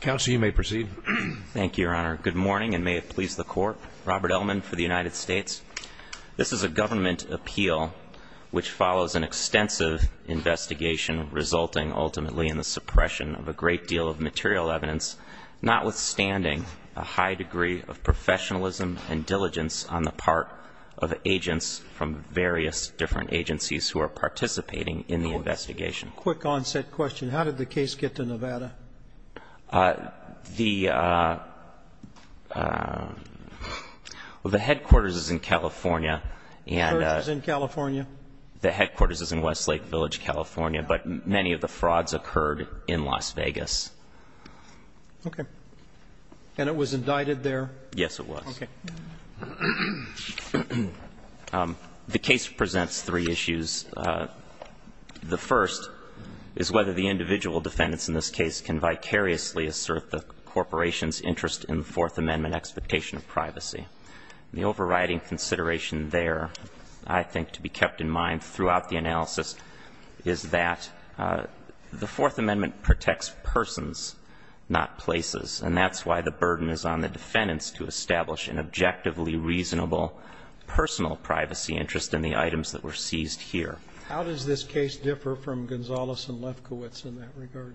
Council, you may proceed. Thank you, Your Honor. Good morning and may it please the Court. Robert Ellman for the United States. This is a government appeal which follows an extensive investigation resulting ultimately in the suppression of a great deal of material evidence notwithstanding a high degree of professionalism and diligence on the part of agents from various different agencies who are participating in the investigation. Quick onset question. How did the case get to Nevada? The headquarters is in California and the headquarters is in Westlake Village, California, but many of the frauds occurred in Las Vegas. Okay. And it was indicted there? Yes, it was. Okay. The case presents three issues. The first is whether the individual defendants in this case can vicariously assert the corporation's interest in the Fourth Amendment expectation of privacy. The overriding consideration there, I think, to be kept in mind throughout the analysis is that the Fourth Amendment protects persons, not places, and that's why the burden is on the defendants to establish an objectively reasonable personal privacy interest in the items that were seized here. How does this case differ from Gonzales and Lefkowitz in that regard?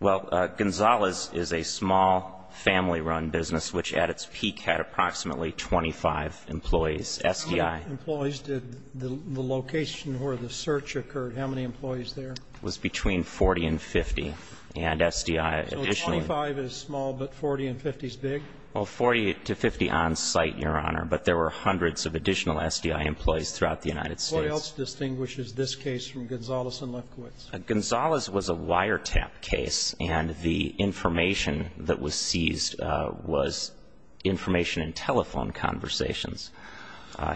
Well, Gonzales is a small family-run business which at its peak had approximately 25 employees, SDI. How many employees did the location where the search occurred, how many employees there? It was between 40 and 50, and SDI additionally So 25 is small, but 40 and 50 is big? Well, 40 to 50 on-site, Your Honor, but there were hundreds of additional SDI employees throughout the United States. What else distinguishes this case from Gonzales and Lefkowitz? Gonzales was a wiretap case, and the information that was seized was information in telephone conversations.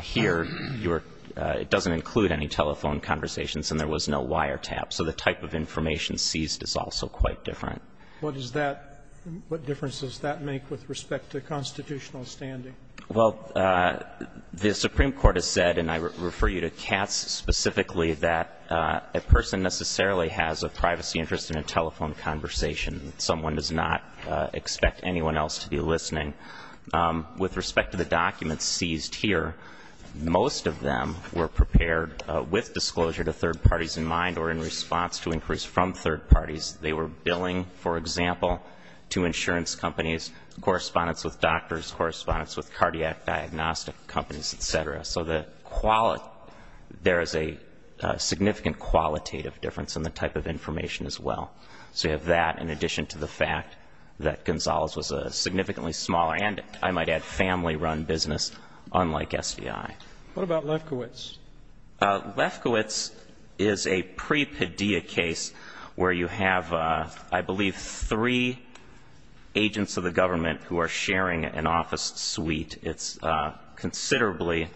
Here, you're It doesn't include any telephone conversations, and there was no wiretap. So the type of information seized is also quite different. What is that? What difference does that make with respect to constitutional standing? Well, the Supreme Court has said, and I refer you to Katz specifically, that a person necessarily has a privacy interest in a telephone conversation. Someone does not expect anyone else to be listening. With respect to the documents seized here, most of them were prepared with disclosure to third parties in mind or in response to inquiries from third parties. They were billing, for example, to insurance companies, correspondence with doctors, correspondence with cardiac diagnostic companies, et cetera. So there is a significant qualitative difference in the type of information as well. So you have that in addition to the fact that Gonzales was a significantly smaller and, I might add, family-run business, unlike SDI. What about Lefkowitz? Lefkowitz is a pre-pedia case where you have, I believe, three agents of the government who are sharing an office suite. It's considerably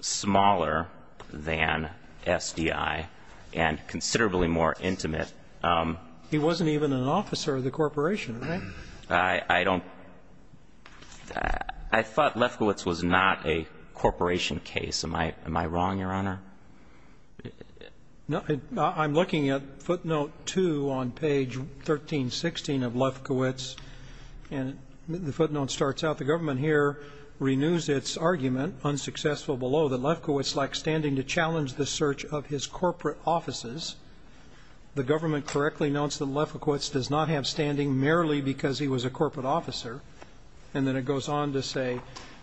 smaller than SDI and considerably more intimate. He wasn't even an officer of the corporation, right? I don't – I thought Lefkowitz was not a corporation case. Am I wrong, Your Honor? I'm looking at footnote 2 on page 1316 of Lefkowitz, and the footnote starts out, the government here renews its argument, unsuccessful below, that Lefkowitz lacked standing to challenge the search of his corporate offices. The government correctly notes that Lefkowitz does not have standing merely because he was a corporate officer, and then it goes on to say,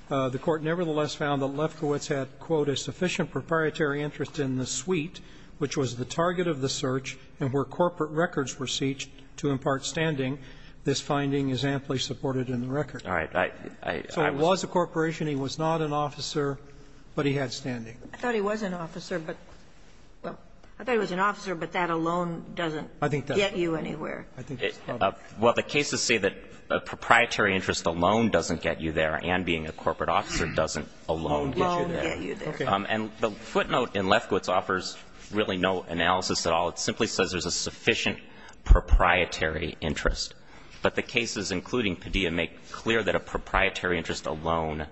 the Court nevertheless found that Lefkowitz had, quote, a sufficient proprietary interest in the suite, which was the target of the search, and where corporate records were searched to impart standing. This finding is amply supported in the record. All right. I was a corporation. He was not an officer, but he had standing. I thought he was an officer, but that alone doesn't get you anywhere. Well, the cases say that a proprietary interest alone doesn't get you there, and being a corporate officer doesn't alone get you there. And the footnote in Lefkowitz offers really no analysis at all. It simply says there's a sufficient proprietary interest. But the cases, including Padilla, make clear that a proprietary interest alone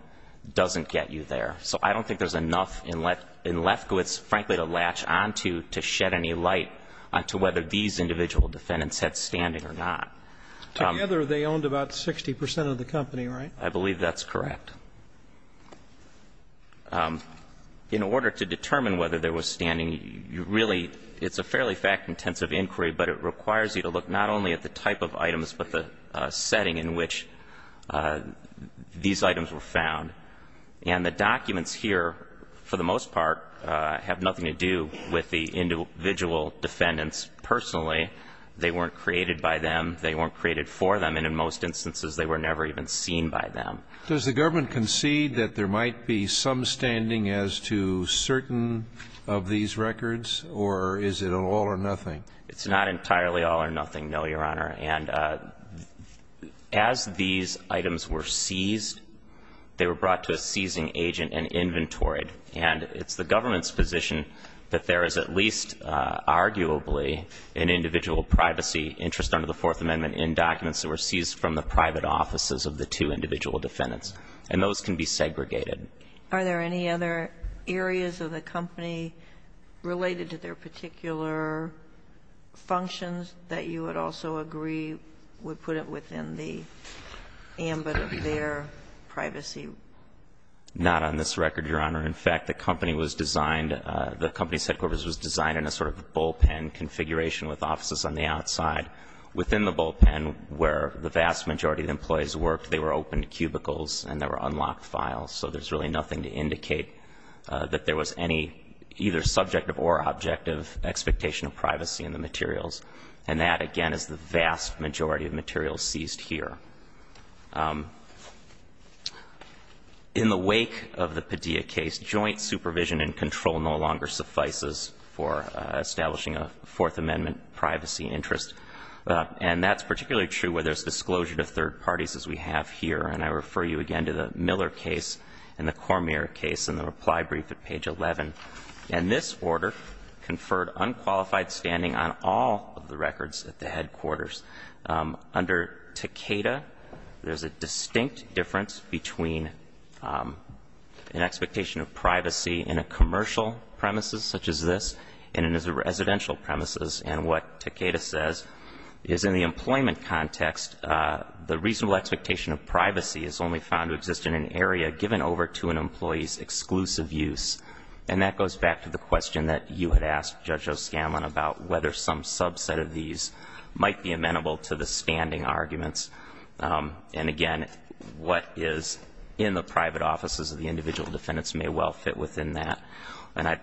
doesn't get you there. So I don't think there's enough in Lefkowitz, frankly, to latch on to, to shed any light on to whether these individual defendants had standing or not. Together, they owned about 60 percent of the company, right? I believe that's correct. In order to determine whether there was standing, you really – it's a fairly fact-intensive inquiry, but it requires you to look not only at the type of items, but the setting in which these items were found. And the documents here, for the most part, have nothing to do with the individual defendants personally. They weren't created by them. They weren't created for them. And in most instances, they were never even seen by them. Does the government concede that there might be some standing as to certain of these records, or is it all or nothing? It's not entirely all or nothing, no, Your Honor. And as these items were seized, they were brought to a seizing agent and inventoried. And it's the government's position that there is at least, arguably, an individual privacy interest under the Fourth Amendment in documents that were seized from the private offices of the two individual defendants, and those can be segregated. Are there any other areas of the company related to their particular functions that you would also agree would put it within the ambit of their privacy? Not on this record, Your Honor. In fact, the company was designed – the company's headquarters was designed in a sort of bullpen configuration with offices on the outside. Within the bullpen, where the vast majority of the employees worked, they were open cubicles and there were unlocked files. So there's really nothing to indicate that there was any either subjective or objective expectation of privacy in the materials. And that, again, is the vast majority of materials seized here. In the wake of the Padilla case, joint supervision and control no longer suffices for establishing a Fourth Amendment privacy interest. And that's particularly true where there's disclosure to third parties, as we have here. And I refer you again to the Miller case and the Cormier case in the reply brief at page 11. And this order conferred unqualified standing on all of the records at the headquarters. Under Takeda, there's a distinct difference between an expectation of privacy in a commercial premises, such as this, and in a residential premises. And what Takeda says is in the employment context, the reasonable expectation of privacy is only found to exist in an area given over to an employee's exclusive use. And that goes back to the question that you had asked, Judge O'Scanlan, about whether some subset of these might be amenable to the standing arguments. And again, what is in the private offices of the individual defendants may well fit within that. And I'd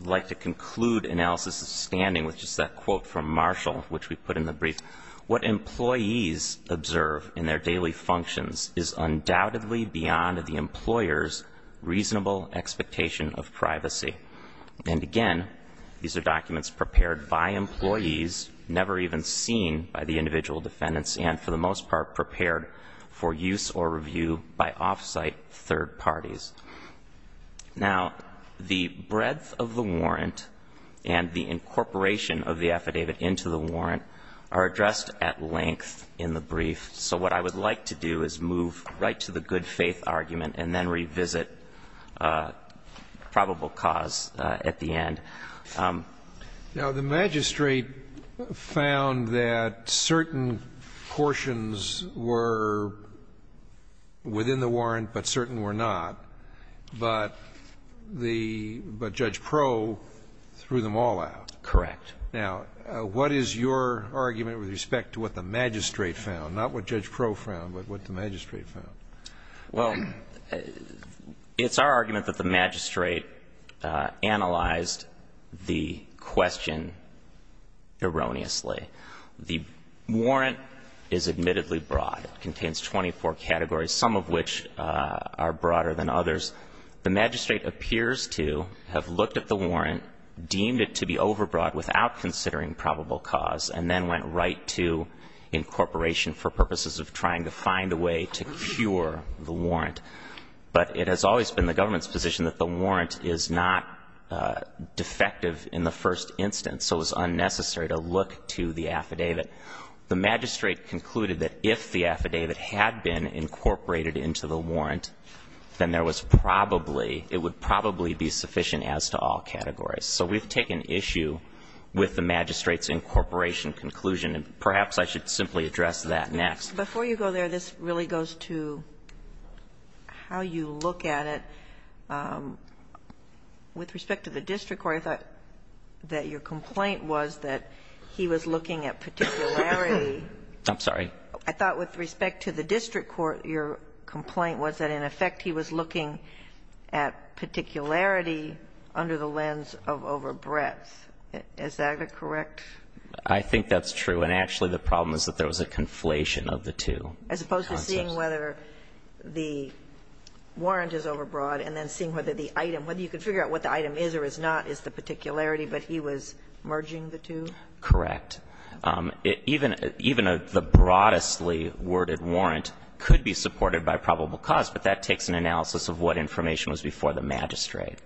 like to conclude analysis of standing with just that quote from Marshall, which we put in the brief. What employees observe in their daily functions is undoubtedly beyond the employer's reasonable expectation of privacy. And again, these are documents prepared by employees, never even seen by the individual defendants, and for the most part, prepared for use or review by off-site third parties. Now, the breadth of the warrant and the incorporation of the affidavit into the warrant are addressed at length in the brief. So what I would like to do is move right to the good faith argument and then revisit probable cause at the end. Now, the magistrate found that certain portions were within the warrant, but certain were not, but the, but Judge Pro threw them all out. Correct. Now, what is your argument with respect to what the magistrate found? Not what Judge Pro found, but what the magistrate found? Well, it's our argument that the magistrate analyzed the question erroneously. The warrant is admittedly broad. It contains 24 categories, some of which are broader than others. The magistrate appears to have looked at the warrant, deemed it to be overbroad without considering probable cause, and then went right to incorporation for purposes of trying to find a way to cure the warrant. But it has always been the government's position that the warrant is not defective in the first instance, so it was unnecessary to look to the affidavit. The magistrate concluded that if the affidavit had been incorporated into the warrant, then there was probably, it would probably be sufficient as to all categories. So we've taken issue with the magistrate's incorporation conclusion, and perhaps I should simply address that next. Before you go there, this really goes to how you look at it. With respect to the district court, I thought that your complaint was that he was looking at particularity. I'm sorry? I thought with respect to the district court, your complaint was that, in effect, he was looking at particularity under the lens of overbreadth. Is that correct? I think that's true, and actually the problem is that there was a conflation of the two. As opposed to seeing whether the warrant is overbroad and then seeing whether the item, whether you can figure out what the item is or is not, is the particularity, but he was merging the two? Correct. Even the broadestly worded warrant could be supported by probable cause, but that takes an analysis of what information was before the magistrate.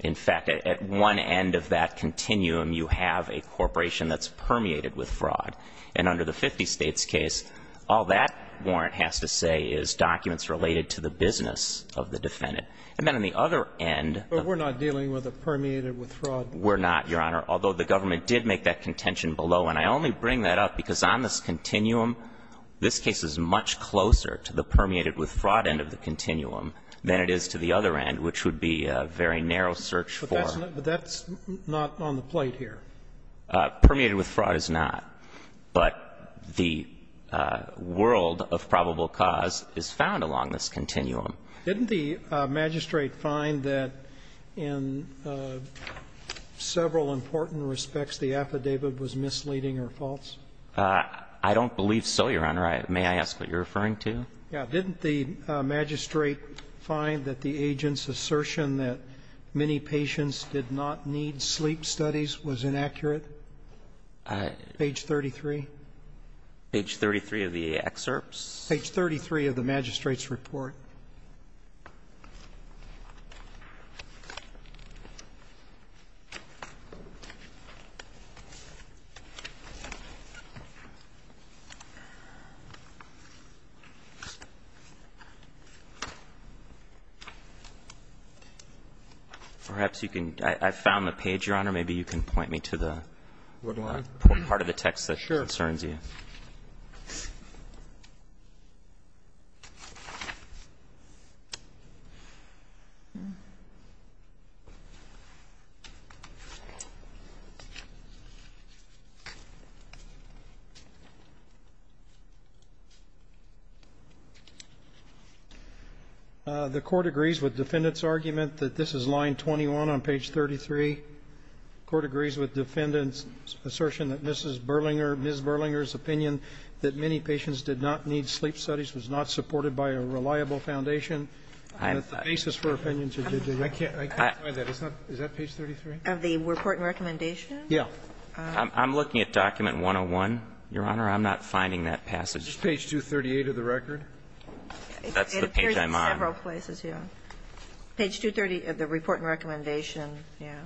In fact, at one end of that continuum, you have a corporation that's permeated with fraud, and under the 50 States case, all that warrant has to say is documents related to the business of the defendant. And then on the other end of the case But we're not dealing with a permeated with fraud warrant. We're not, Your Honor, although the government did make that contention below. And I only bring that up because on this continuum, this case is much closer to the permeated with fraud end of the continuum than it is to the other end, which would be a very narrow search for. But that's not on the plate here. Permeated with fraud is not. But the world of probable cause is found along this continuum. Didn't the magistrate find that in several important respects the affidavit was misleading or false? I don't believe so, Your Honor. May I ask what you're referring to? Yeah. Didn't the magistrate find that the agent's assertion that many patients did not need sleep studies was inaccurate? Page 33. Page 33 of the excerpts? Page 33 of the magistrate's report. Perhaps you can ‑‑ I found the page, Your Honor. Maybe you can point me to the part of the text that concerns you. The Court agrees with defendant's argument that this is line 21 on page 33. The Court agrees with defendant's assertion that Mrs. Berlinger, Ms. Berlinger's opinion that many patients did not need sleep studies was not supported by a reliable foundation. I can't find that. Is that page 33? Of the report and recommendation? Yeah. I'm looking at document 101, Your Honor. I'm not finding that passage. Is page 238 of the record? That's the page I'm on. It appears in several places, yeah. Page 230 of the report and recommendation, yeah.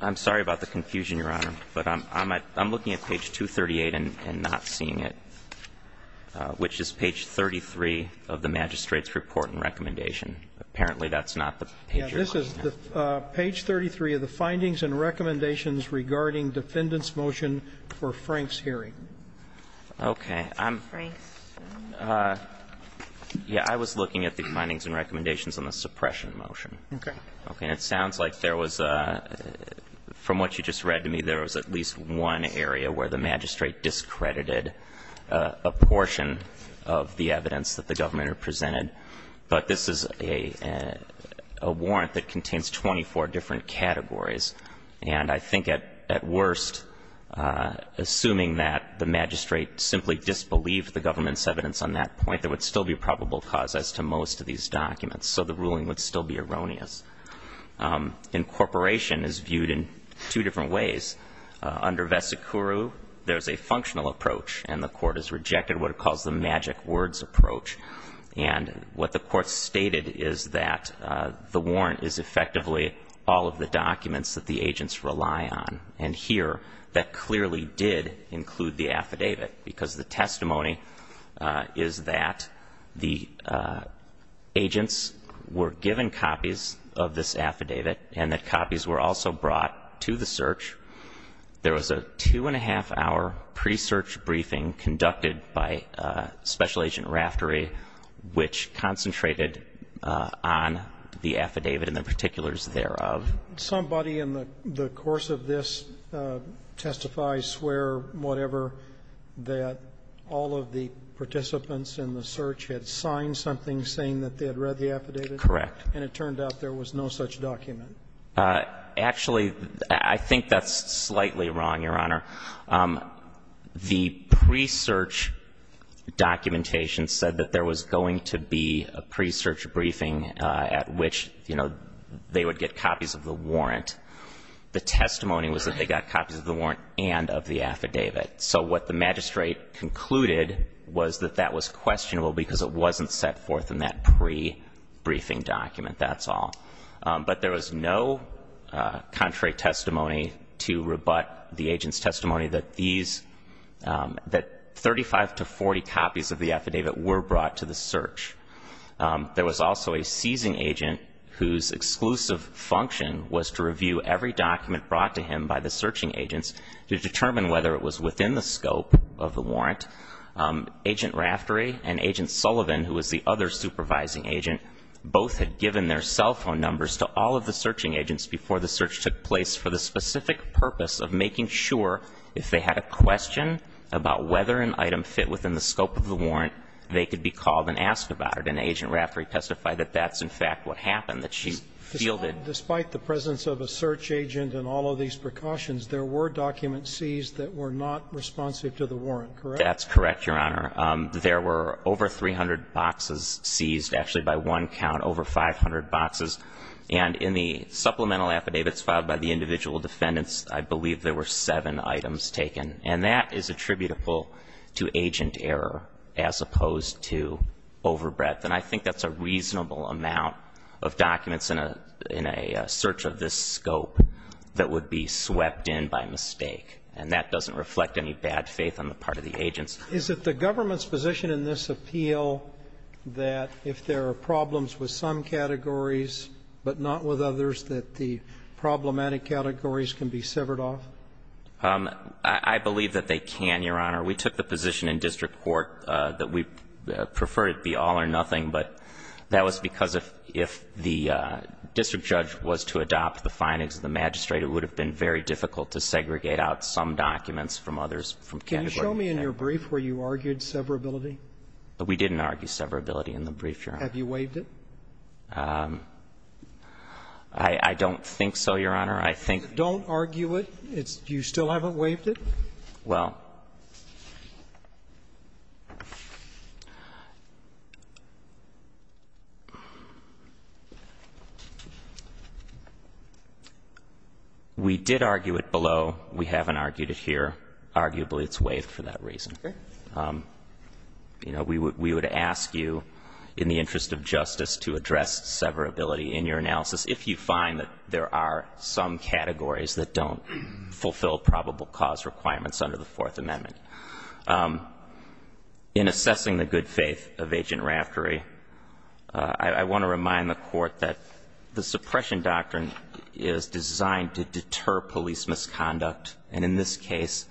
I'm sorry about the confusion, Your Honor, but I'm looking at page 238 and not seeing it, which is page 33 of the magistrate's report and recommendation. Apparently, that's not the page you're looking at. Yeah. This is page 33 of the findings and recommendations regarding defendant's motion for Frank's hearing. Okay. I'm ‑‑ Frank's hearing? Yeah. I was looking at the findings and recommendations on the suppression motion. Okay. Okay. And it sounds like there was a ‑‑ from what you just read to me, there was at least one area where the magistrate discredited a portion of the evidence that the government had presented, but this is a warrant that contains 24 different categories, and I think at worst, assuming that the magistrate simply disbelieved the government's evidence on that point, there would still be probable cause as to most of these documents, so the ruling would still be erroneous. Incorporation is viewed in two different ways. Under vesicuru, there's a functional approach, and the court has rejected what it calls the magic words approach, and what the court stated is that the warrant is effectively all of the documents that the agents rely on, and here, that clearly did include the affidavit because the testimony is that the agents were given copies of this affidavit and that copies were also brought to the search. There was a two and a half hour pre‑search briefing conducted by Special Agent Raftery, which concentrated on the affidavit and the particulars thereof. Somebody in the course of this testifies, swear, whatever, that all of the participants in the search had signed something saying that they had read the affidavit? Correct. And it turned out there was no such document? Actually, I think that's slightly wrong, Your Honor. The pre‑search documentation said that there was going to be a pre‑search briefing at which, you know, they would get copies of the warrant. The testimony was that they got copies of the warrant and of the affidavit. So what the magistrate concluded was that that was questionable because it wasn't set forth in that pre‑briefing document, that's all. But there was no contrary testimony to rebut the agent's testimony that these, that 35 to 40 copies of the affidavit were brought to the search. There was also a seizing agent whose exclusive function was to review every document brought to him by the searching agents to determine whether it was within the scope of the warrant. Agent Raftery and Agent Sullivan, who was the other supervising agent, both had given their cell phone numbers to all of the searching agents before the search took place for the specific purpose of making sure if they had a question about whether an item fit within the scope of the warrant, they could be called and asked about it. And Agent Raftery testified that that's, in fact, what happened, that she fielded ‑‑ Despite the presence of a search agent and all of these precautions, there were documents seized that were not responsive to the warrant, correct? That's correct, Your Honor. There were over 300 boxes seized, actually, by one count, over 500 boxes. And in the supplemental affidavits filed by the individual defendants, I believe there were seven items taken. And that is attributable to agent error as opposed to overbreadth. And I think that's a reasonable amount of documents in a, in a search of this scope that would be swept in by mistake. And that doesn't reflect any bad faith on the part of the agents. Is it the government's position in this appeal that if there are problems with some categories but not with others, that the problematic categories can be severed off? I believe that they can, Your Honor. We took the position in district court that we prefer it be all or nothing. But that was because if, if the district judge was to adopt the findings of the magistrate, it would have been very difficult to segregate out some documents from others from category 10. Can you show me in your brief where you argued severability? We didn't argue severability in the brief, Your Honor. Have you waived it? I, I don't think so, Your Honor. I think Don't argue it. It's, you still haven't waived it? Well, we did argue it below. We haven't argued it here. Arguably, it's waived for that reason. Okay. You know, we would, we would ask you in the interest of justice to address severability in your analysis if you find that there are some categories that don't fulfill probable cause requirements under the Fourth Amendment. In assessing the good faith of Agent Raftery, I, I want to remind the court that the suppression doctrine is designed to deter police misconduct, and in this case,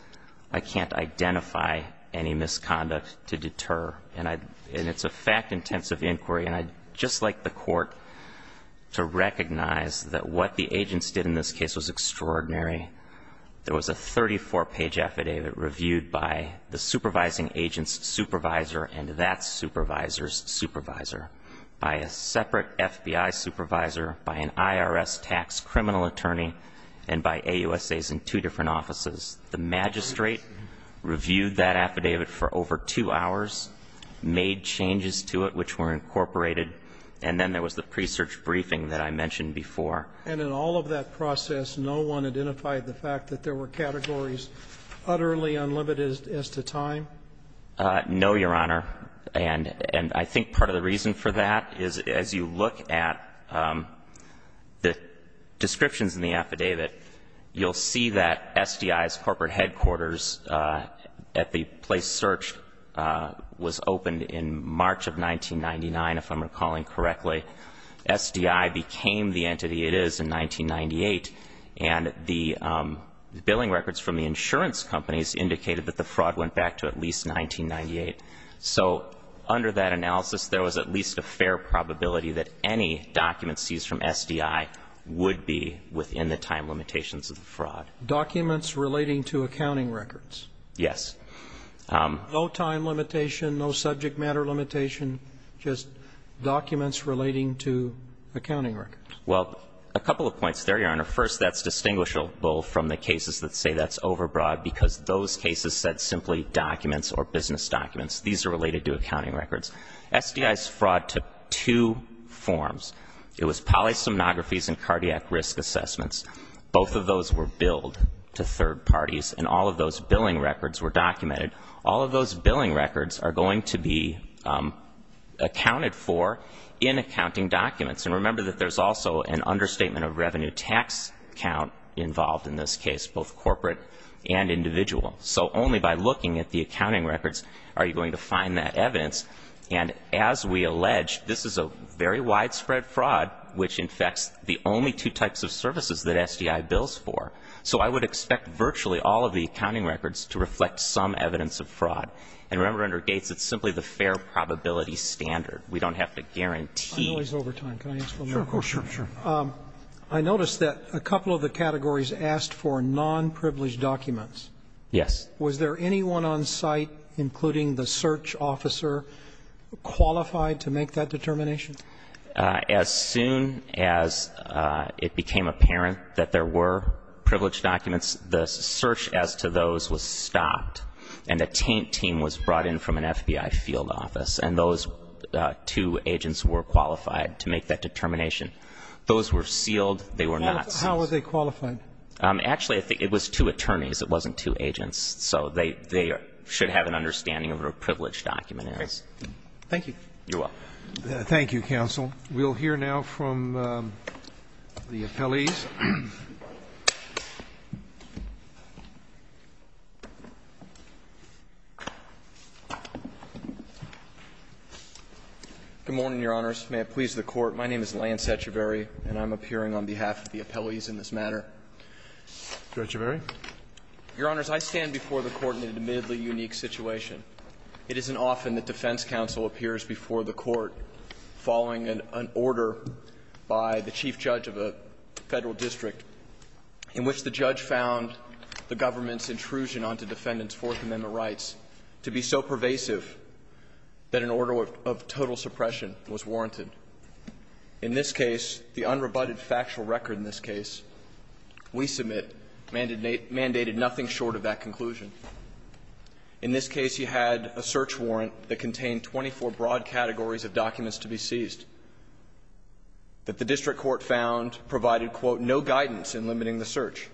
I can't identify any misconduct to deter. And I, and it's a fact-intensive inquiry, and I'd just like the court to recognize that what the agents did in this case was extraordinary. There was a 34-page affidavit reviewed by the supervising agent's supervisor and that supervisor's supervisor, by a separate FBI supervisor, by an IRS tax criminal attorney, and by AUSAs in two different offices. The magistrate reviewed that affidavit for over two hours, made changes to it which were incorporated, and then there was the pre-search briefing that I mentioned before. And in all of that process, no one identified the fact that there were categories utterly unlimited as to time? No, Your Honor. And, and I think part of the reason for that is as you look at the descriptions in the affidavit, you'll see that SDI's corporate headquarters at the place search was opened in March of 1999, if I'm recalling correctly. SDI became the entity it is in 1998, and the billing records from the insurance companies indicated that the fraud went back to at least 1998. So under that analysis, there was at least a fair probability that any document seized from SDI would be within the time limitations of the fraud. Documents relating to accounting records? Yes. No time limitation, no subject matter limitation, just documents relating to accounting records? Well, a couple of points there, Your Honor. First, that's distinguishable from the cases that say that's overbroad, because those cases said simply documents or business documents. These are related to accounting records. SDI's fraud took two forms. It was polysomnographies and cardiac risk assessments. Both of those were billed to third parties, and all of those billing records were documented. All of those billing records are going to be accounted for in accounting documents. And remember that there's also an understatement of revenue tax count involved in this case, both corporate and individual. So only by looking at the accounting records are you going to find that evidence. And as we allege, this is a very widespread fraud, which infects the only two types of services that SDI bills for. So I would expect virtually all of the accounting records to reflect some evidence of fraud, and remember under Gates, it's simply the fair probability standard. We don't have to guarantee. I know he's over time. Can I ask one more question? Sure, sure, sure. I noticed that a couple of the categories asked for non-privileged documents. Yes. Was there anyone on site, including the search officer, qualified to make that determination? As soon as it became apparent that there were privileged documents, the search as to those was stopped. And a taint team was brought in from an FBI field office. And those two agents were qualified to make that determination. Those were sealed. They were not seized. How were they qualified? Actually, I think it was two attorneys. It wasn't two agents. So they should have an understanding of privileged documentaries. Thank you. You're welcome. Thank you, counsel. We'll hear now from the appellees. Good morning, your honors. May it please the court. My name is Lance Echeverry, and I'm appearing on behalf of the appellees in this matter. Judge Echeverry. Your honors, I stand before the court in an admittedly unique situation. It isn't often that defense counsel appears before the court following an order by the chief judge of a federal district in which the judge found the government's intrusion onto defendant's Fourth Amendment rights to be so pervasive that an order of total suppression was warranted. In this case, the unrebutted factual record in this case we submit mandated nothing short of that conclusion. In this case, you had a search warrant that contained 24 broad categories of documents to be seized that the district court found provided, quote, no guidance in limiting the search.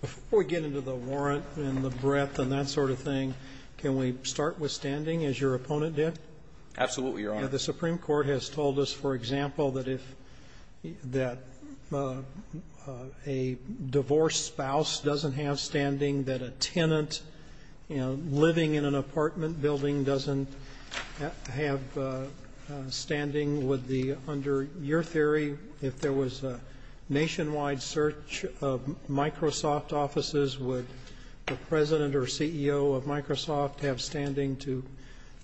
Before we get into the warrant and the breadth and that sort of thing, can we start withstanding as your opponent did? Absolutely, your honor. The Supreme Court has told us, for example, that if that a divorced spouse doesn't have standing, that a tenant living in an apartment building doesn't have standing. Would the, under your theory, if there was a nationwide search of Microsoft offices, would the president or CEO of Microsoft have standing to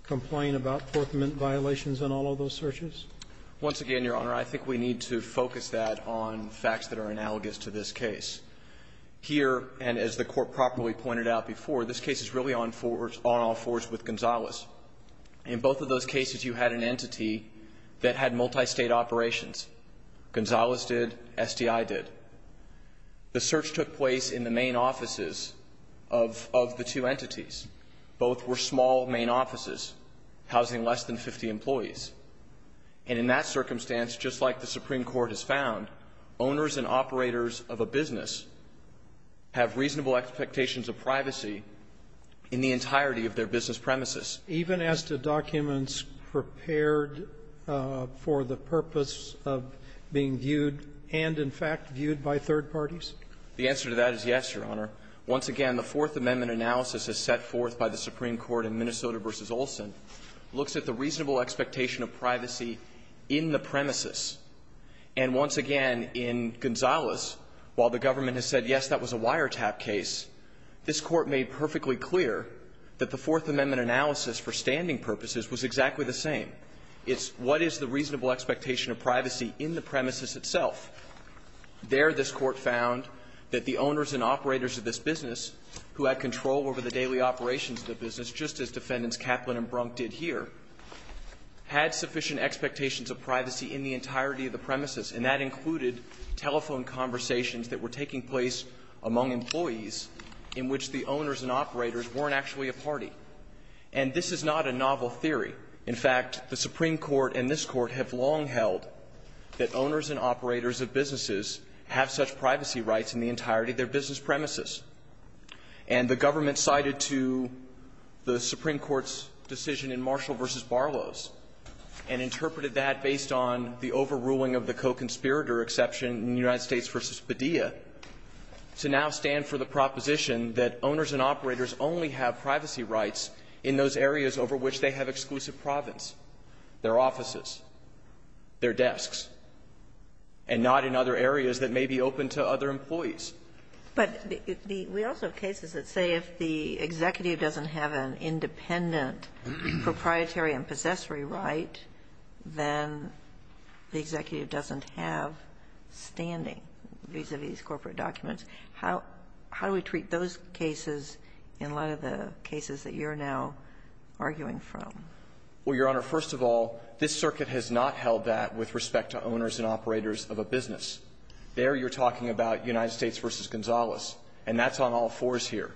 complain about Fourth Amendment violations in all of those searches? Once again, your honor, I think we need to focus that on facts that are analogous to this case. Here, and as the court properly pointed out before, this case is really on all fours with Gonzalez. In both of those cases, you had an entity that had multi-state operations. Gonzalez did, SDI did. The search took place in the main offices of the two entities. Both were small main offices, housing less than 50 employees. And in that circumstance, just like the Supreme Court has found, owners and operators of a business have reasonable expectations of privacy in the entirety of their business premises. Even as the documents prepared for the purpose of being viewed, and in fact viewed by third parties? The answer to that is yes, your honor. Once again, the Fourth Amendment analysis is set forth by the Supreme Court in Minnesota versus Olson. Looks at the reasonable expectation of privacy in the premises. And once again, in Gonzalez, while the government has said yes, that was a wiretap case. This court made perfectly clear that the Fourth Amendment analysis for standing purposes was exactly the same. It's what is the reasonable expectation of privacy in the premises itself? There, this court found that the owners and operators of this business, who had control over the daily operations of the business, just as defendants Kaplan and Brunk did here, had sufficient expectations of privacy in the entirety of the premises. And that included telephone conversations that were taking place among employees in which the owners and operators weren't actually a party. And this is not a novel theory. In fact, the Supreme Court and this court have long held that owners and operators of businesses have such privacy rights in the entirety of their business premises. And the government cited to the Supreme Court's decision in Marshall versus Barlow's. And interpreted that based on the overruling of the co-conspirator exception in United States versus Padilla. To now stand for the proposition that owners and operators only have privacy rights in those areas over which they have exclusive province. Their offices, their desks, and not in other areas that may be open to other employees. But we also have cases that say if the executive doesn't have an independent proprietary and corporate document, how do we treat those cases in light of the cases that you're now arguing from? Well, Your Honor, first of all, this circuit has not held that with respect to owners and operators of a business. There you're talking about United States versus Gonzales, and that's on all fours here.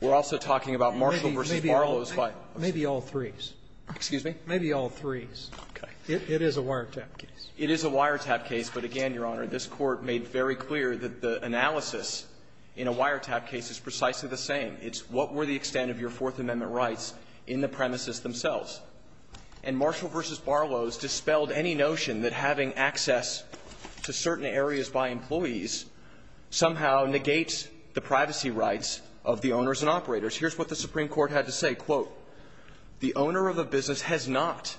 We're also talking about Marshall versus Barlow's by. Maybe all threes. Excuse me? Maybe all threes. Okay. It is a wiretap case. It is a wiretap case. But again, Your Honor, this Court made very clear that the analysis in a wiretap case is precisely the same. It's what were the extent of your Fourth Amendment rights in the premises themselves. And Marshall versus Barlow's dispelled any notion that having access to certain areas by employees somehow negates the privacy rights of the owners and operators. Here's what the Supreme Court had to say, quote, the owner of a business has not,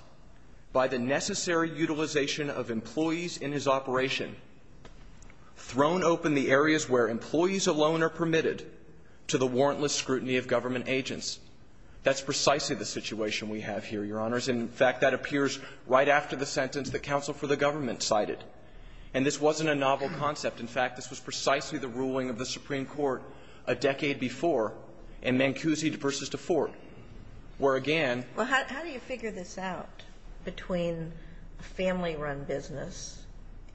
by the necessary utilization of employees in his operation, thrown open the areas where employees alone are permitted to the warrantless scrutiny of government agents. That's precisely the situation we have here, Your Honors. In fact, that appears right after the sentence that counsel for the government cited. And this wasn't a novel concept. In fact, this was precisely the ruling of the Supreme Court a decade before in Mancusi versus DeForte, where again. Well, how do you figure this out between a family-run business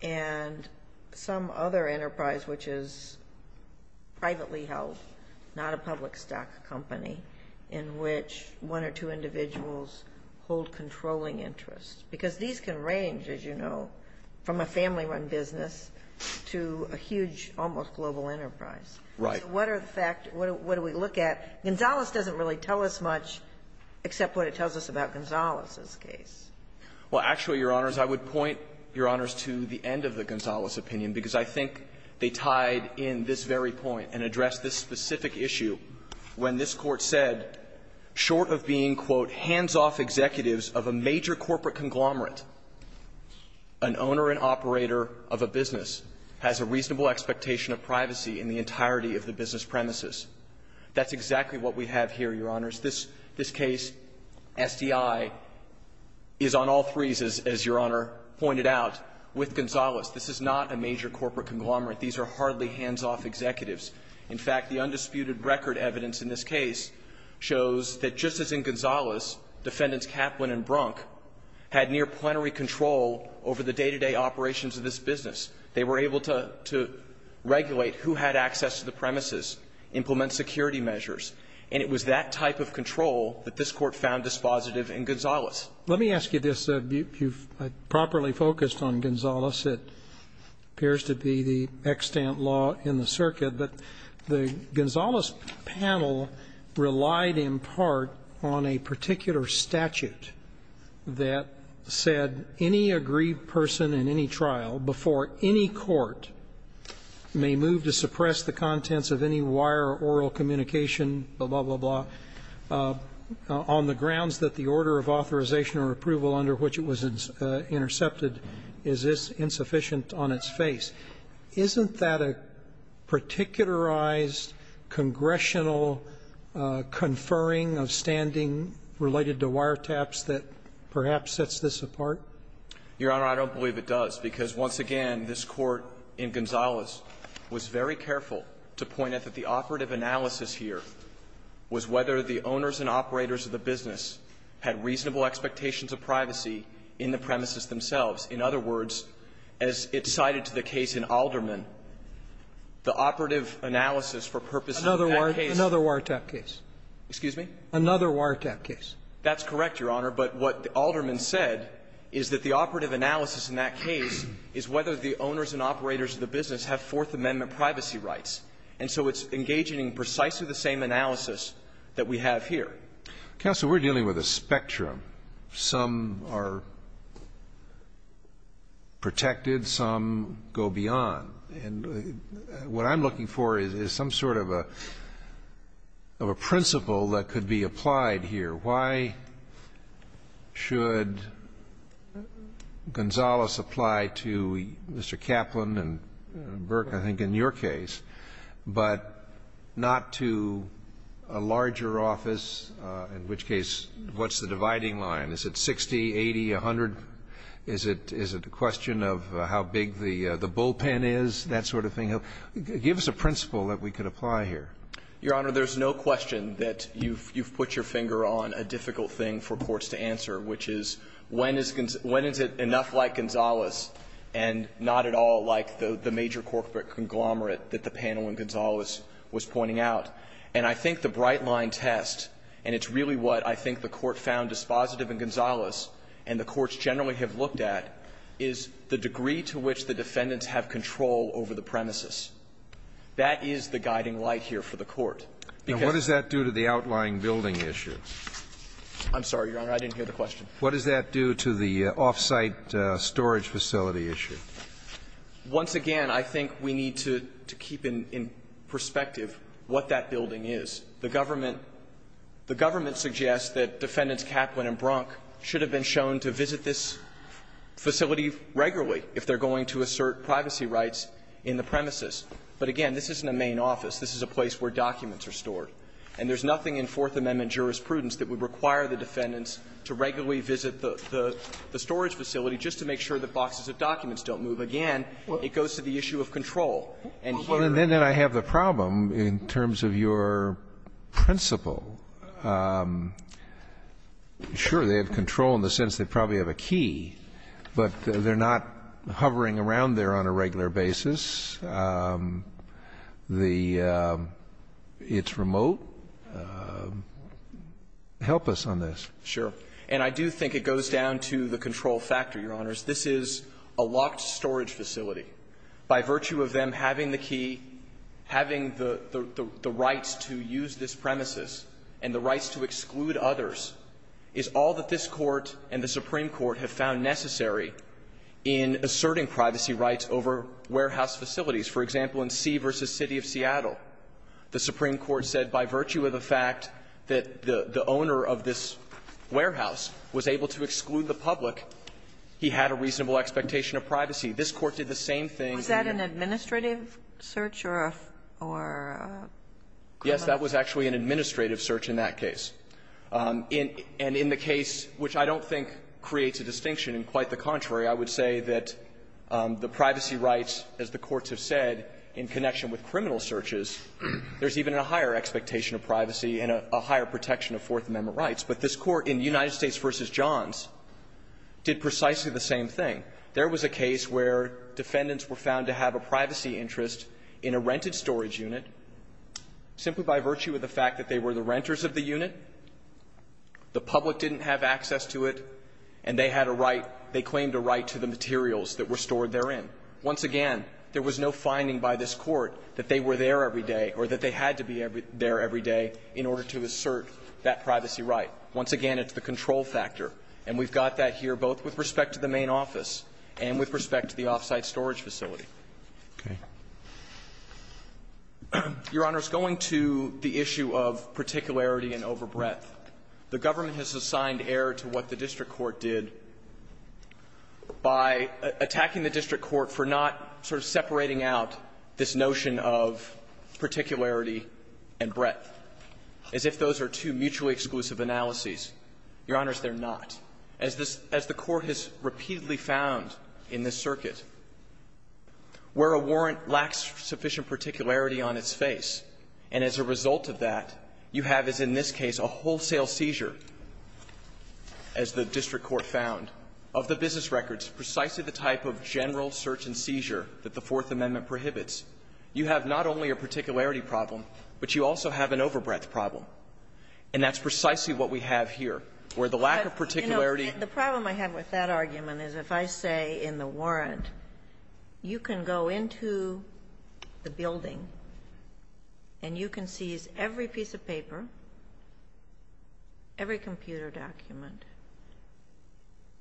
and some other enterprise which is privately held, not a public stock company, in which one or two individuals hold controlling interests? Because these can range, as you know, from a family-run business to a huge, almost global enterprise. Right. What are the fact, what do we look at? Gonzales doesn't really tell us much, except what it tells us about Gonzales's case. Well, actually, Your Honors, I would point, Your Honors, to the end of the Gonzales opinion, because I think they tied in this very point and addressed this specific issue when this Court said, short of being, quote, hands-off executives of a major corporate conglomerate, an owner and operator of a business has a reasonable expectation of privacy in the entirety of the business premises. That's exactly what we have here, Your Honors. This case, SDI, is on all threes, as Your Honor pointed out, with Gonzales. This is not a major corporate conglomerate. These are hardly hands-off executives. In fact, the undisputed record evidence in this case shows that just as in Gonzales, Defendants Kaplan and Brunk had near-plenary control over the day-to-day operations of this business. They were able to regulate who had access to the premises, implement security measures. And it was that type of control that this Court found dispositive in Gonzales. Let me ask you this. You've properly focused on Gonzales. It appears to be the extant law in the circuit. But the Gonzales panel relied, in part, on a particular statute that said any aggrieved person in any trial before any court may move to suppress the contents of any wire or oral communication, blah, blah, blah, blah, on the grounds that the order of authorization or approval under which it was intercepted is insufficient on its face. Isn't that a particularized congressional conferring of standing related to wiretaps that perhaps sets this apart? Your Honor, I don't believe it does, because once again, this Court in Gonzales was very careful to point out that the operative analysis here was whether the owners and operators of the business had reasonable expectations of privacy in the premises themselves. In other words, as it cited to the case in Alderman, the operative analysis for purposes of that case was not sufficient. Another wiretap case. Excuse me? Another wiretap case. That's correct, Your Honor. But what Alderman said is that the operative analysis in that case is whether the owners and operators of the business have Fourth Amendment privacy rights. And so it's engaging in precisely the same analysis that we have here. Counsel, we're dealing with a spectrum. Some are protected. Some go beyond. And what I'm looking for is some sort of a principle that could be applied here. Why should Gonzales apply to Mr. Kaplan and Burke, I think, in your case, but not to a larger office, in which case what's the dividing line? Is it 60, 80, 100? Is it a question of how big the bullpen is, that sort of thing? Give us a principle that we could apply here. Your Honor, there's no question that you've put your finger on a difficult thing for courts to answer, which is when is it enough like Gonzales and not at all like the major corporate conglomerate that the panel in Gonzales was pointing out. And I think the bright-line test, and it's really what I think the Court found dispositive in Gonzales and the courts generally have looked at, is the degree to which the defendants have control over the premises. That is the guiding light here for the Court. Because What does that do to the outlying building issue? I'm sorry, Your Honor, I didn't hear the question. What does that do to the off-site storage facility issue? Once again, I think we need to keep in perspective what that building is. The government suggests that Defendants Kaplan and Brunk should have been shown to visit this facility regularly if they're going to assert privacy rights in the premises. But again, this isn't a main office. This is a place where documents are stored. And there's nothing in Fourth Amendment jurisprudence that would require the defendants to regularly visit the storage facility just to make sure that boxes of documents don't move. Again, it goes to the issue of control. And here Well, and then I have the problem in terms of your principle. Sure, they have control in the sense they probably have a key, but they're not hovering around there on a regular basis. The It's remote. Help us on this. Sure. And I do think it goes down to the control factor, Your Honors. This is a locked storage facility. By virtue of them having the key, having the rights to use this premises and the rights to exclude others is all that this Court and the Supreme Court have found necessary in asserting privacy rights over warehouse facilities. For example, in C v. City of Seattle, the Supreme Court said by virtue of the fact that the owner of this warehouse was able to exclude the public, he had a reasonable expectation of privacy. This Court did the same thing. Was that an administrative search or a Yes, that was actually an administrative search in that case. And in the case, which I don't think creates a distinction, and quite the contrary, I would say that the privacy rights, as the courts have said, in connection with criminal searches, there's even a higher expectation of privacy and a higher protection of Fourth Amendment rights. But this Court in United States v. Johns did precisely the same thing. There was a case where defendants were found to have a privacy interest in a rented storage unit simply by virtue of the fact that they were the renters of the unit, the public didn't have access to it, and they had a right, they claimed a right to the materials that were stored therein. Once again, there was no finding by this Court that they were there every day or that they had to be there every day in order to assert that privacy right. Once again, it's the control factor, and we've got that here both with respect to the main office and with respect to the off-site storage facility. Roberts. Your Honor, going to the issue of particularity and overbreadth, the government has assigned error to what the district court did by attacking the district court for not sort of separating out this notion of particularity and breadth, as if those are two mutually exclusive analyses. Your Honors, they're not. As this – as the Court has repeatedly found in this circuit, where a warrant lacks sufficient particularity on its face, and as a result of that, you have, as in this case, a wholesale seizure, as the district court found, of the business records, precisely the type of general search and seizure that the Fourth Amendment prohibits, you have not only a particularity problem, but you also have an overbreadth problem. And that's precisely what we have here, where the lack of particularity you know, the problem I have with that argument is if I say in the warrant, you can go into the building, and you can seize every piece of paper, every computer document,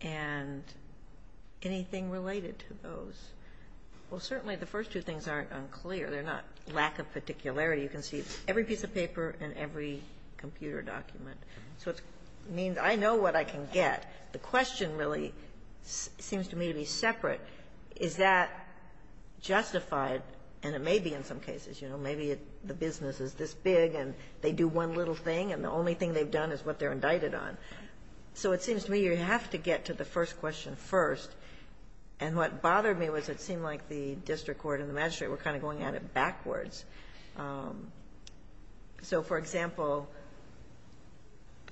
and anything related to those, well, certainly the first two things aren't unclear. They're not lack of particularity. You can seize every piece of paper and every computer document. So it means I know what I can get. The question really seems to me to be separate. Is that justified? And it may be in some cases, you know, maybe the business is this big, and they do one little thing, and the only thing they've done is what they're indicted on. So it seems to me you have to get to the first question first. And what bothered me was it seemed like the district court and the magistrate were kind of going at it backwards. So, for example,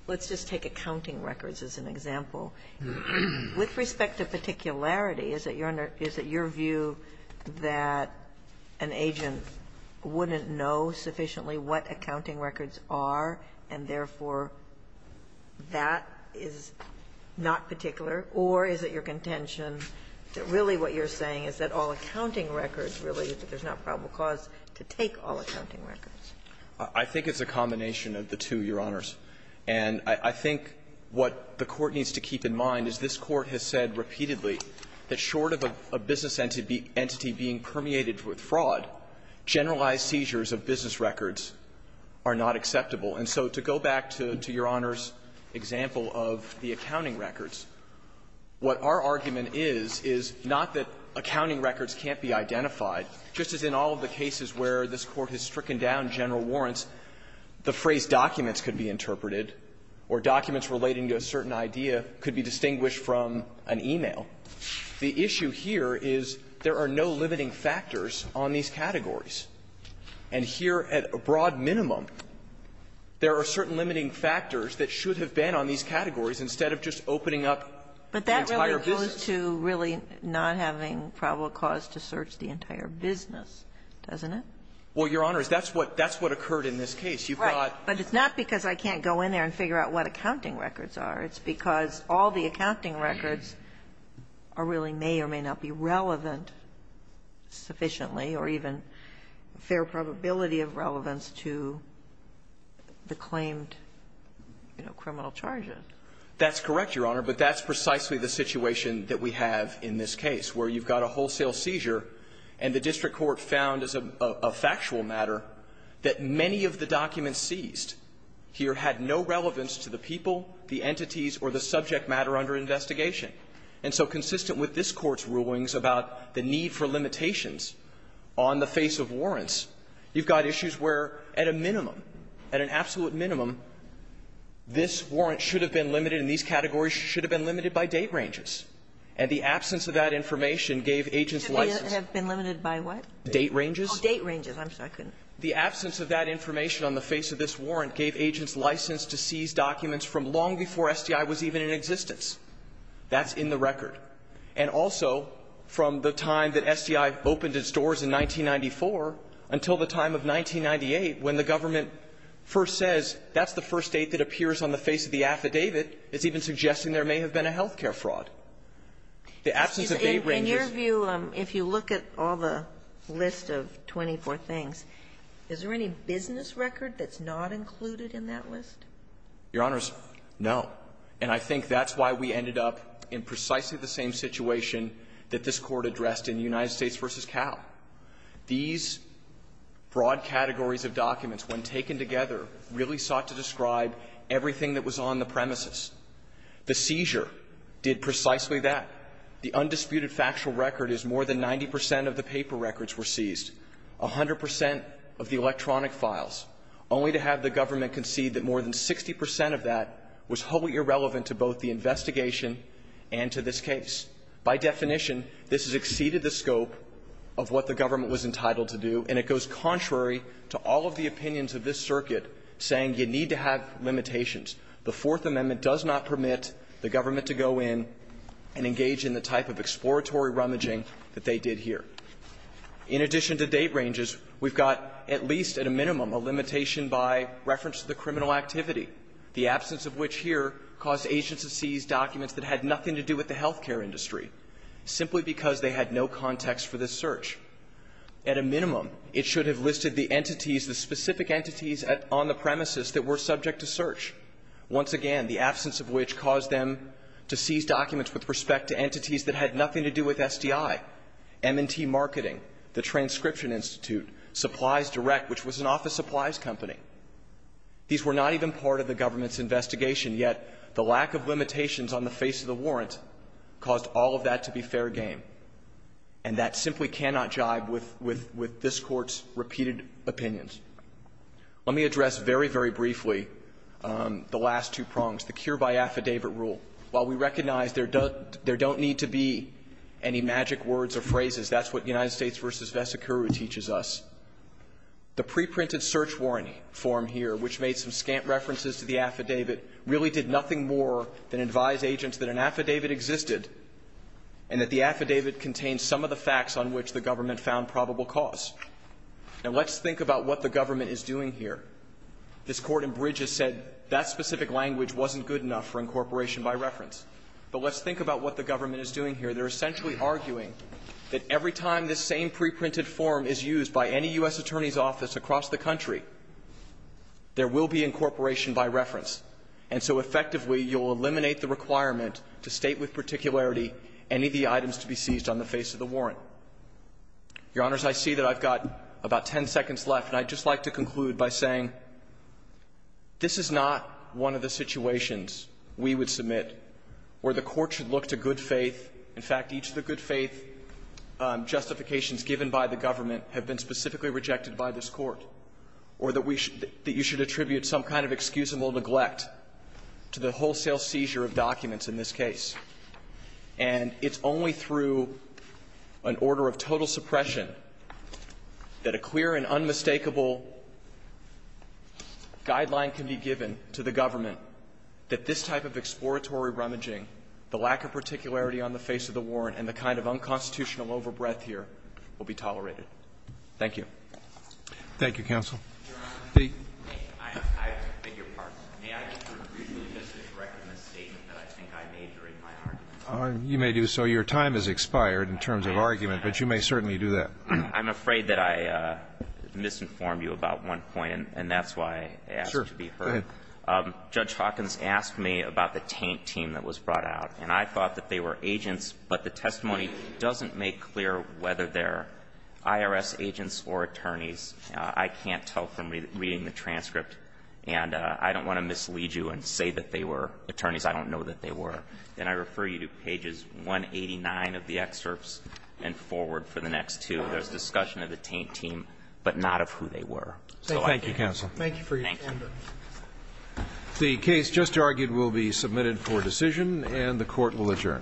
let's just take accounting records as an example. With respect to particularity, is it your view that an agent wouldn't know sufficiently what accounting records are, and therefore that is not particular? Or is it your contention that really what you're saying is that all accounting records, really, there's not probable cause to take all accounting records? I think it's a combination of the two, Your Honors. And I think what the Court needs to keep in mind is this Court has said repeatedly that short of a business entity being permeated with fraud, generalized seizures of business records are not acceptable. And so to go back to Your Honor's example of the accounting records, what our argument is, is not that accounting records can't be identified, just as in all of the cases where this Court has stricken down general warrants, the phrase documents could be interpreted or documents relating to a certain idea could be distinguished from an e-mail. The issue here is there are no limiting factors on these categories. And here at a broad minimum, there are certain limiting factors that should have been on these categories instead of just opening up the entire business. So it's related to really not having probable cause to search the entire business, doesn't it? Well, Your Honors, that's what occurred in this case. You've got the other one. Right. But it's not because I can't go in there and figure out what accounting records are. It's because all the accounting records are really may or may not be relevant sufficiently or even a fair probability of relevance to the claimed criminal charges. That's correct, Your Honor, but that's precisely the situation that we have in this case, where you've got a wholesale seizure and the district court found as a factual matter that many of the documents seized here had no relevance to the people, the entities, or the subject matter under investigation. And so consistent with this Court's rulings about the need for limitations on the face of warrants, you've got issues where at a minimum, at an absolute minimum, this warrant should have been limited, and these categories should have been limited by date ranges. And the absence of that information gave agents license. Should have been limited by what? Date ranges. Oh, date ranges. I'm sorry. I couldn't. The absence of that information on the face of this warrant gave agents license to seize documents from long before SDI was even in existence. That's in the record. And also from the time that SDI opened its doors in 1994 until the time of 1998, when the government first says that's the first date that appears on the face of the affidavit, it's even suggesting there may have been a health care fraud. The absence of date ranges – In your view, if you look at all the list of 24 things, is there any business record that's not included in that list? Your Honors, no. And I think that's why we ended up in precisely the same situation that this Court addressed in United States v. Cal. These broad categories of documents, when taken together, really sought to describe everything that was on the premises. The seizure did precisely that. The undisputed factual record is more than 90 percent of the paper records were seized, 100 percent of the electronic files, only to have the government concede that more than 60 percent of that was wholly irrelevant to both the investigation and to this case. By definition, this has exceeded the scope of what the government was entitled to do, and it goes contrary to all of the opinions of this circuit saying you need to have limitations. The Fourth Amendment does not permit the government to go in and engage in the type of exploratory rummaging that they did here. In addition to date ranges, we've got at least, at a minimum, a limitation by reference to the criminal activity, the absence of which here caused agents to seize documents that had nothing to do with the health care industry, simply because they had no context for this search. At a minimum, it should have listed the entities, the specific entities on the premises that were subject to search, once again, the absence of which caused them to seize documents with respect to entities that had nothing to do with SDI, M&T Marketing, the Transcription Institute, Supplies Direct, which was an office supplies company. These were not even part of the government's investigation, yet the lack of limitations on the face of the warrant caused all of that to be fair game. And that simply cannot jibe with this Court's repeated opinions. Let me address very, very briefly the last two prongs, the cure-by-affidavit rule. While we recognize there don't need to be any magic words or phrases, that's what United States v. Vesicuru teaches us, the preprinted search warrant form here, which made some scant references to the affidavit, really did nothing more than advise agents that an affidavit existed and that the affidavit contained some of the facts on which the government found probable cause. Now, let's think about what the government is doing here. This Court in Bridges said that specific language wasn't good enough for incorporation by reference. But let's think about what the government is doing here. They're essentially arguing that every time this same preprinted form is used by any U.S. attorney's office across the country, there will be incorporation by reference. And so effectively, you'll eliminate the requirement to state with particularity any of the items to be seized on the face of the warrant. Your Honors, I see that I've got about ten seconds left, and I'd just like to conclude by saying this is not one of the situations we would submit where the Court should look to good faith. In fact, each of the good faith justifications given by the government have been specifically rejected by this Court, or that you should attribute some kind of excusable neglect to the wholesale seizure of documents in this case. And it's only through an order of total suppression that a clear and unmistakable guideline can be given to the government that this type of exploratory rummaging, the lack of particularity on the face of the warrant, and the kind of unconstitutional overbreath here will be tolerated. Thank you. Thank you, counsel. Your Honors, I beg your pardon. May I briefly just correct a misstatement that I think I made during my argument? You may do so. Your time has expired in terms of argument, but you may certainly do that. I'm afraid that I misinformed you about one point, and that's why I asked to be heard. Sure. Go ahead. Judge Hawkins asked me about the taint team that was brought out, and I thought that they were agents, but the testimony doesn't make clear whether they're IRS agents or attorneys. I can't tell from reading the transcript, and I don't want to mislead you and say that they were attorneys. I don't know that they were. And I refer you to pages 189 of the excerpts and forward for the next two. There's discussion of the taint team, but not of who they were. Thank you, counsel. Thank you for your time. The case just argued will be submitted for decision, and the Court will adjourn. Thank you.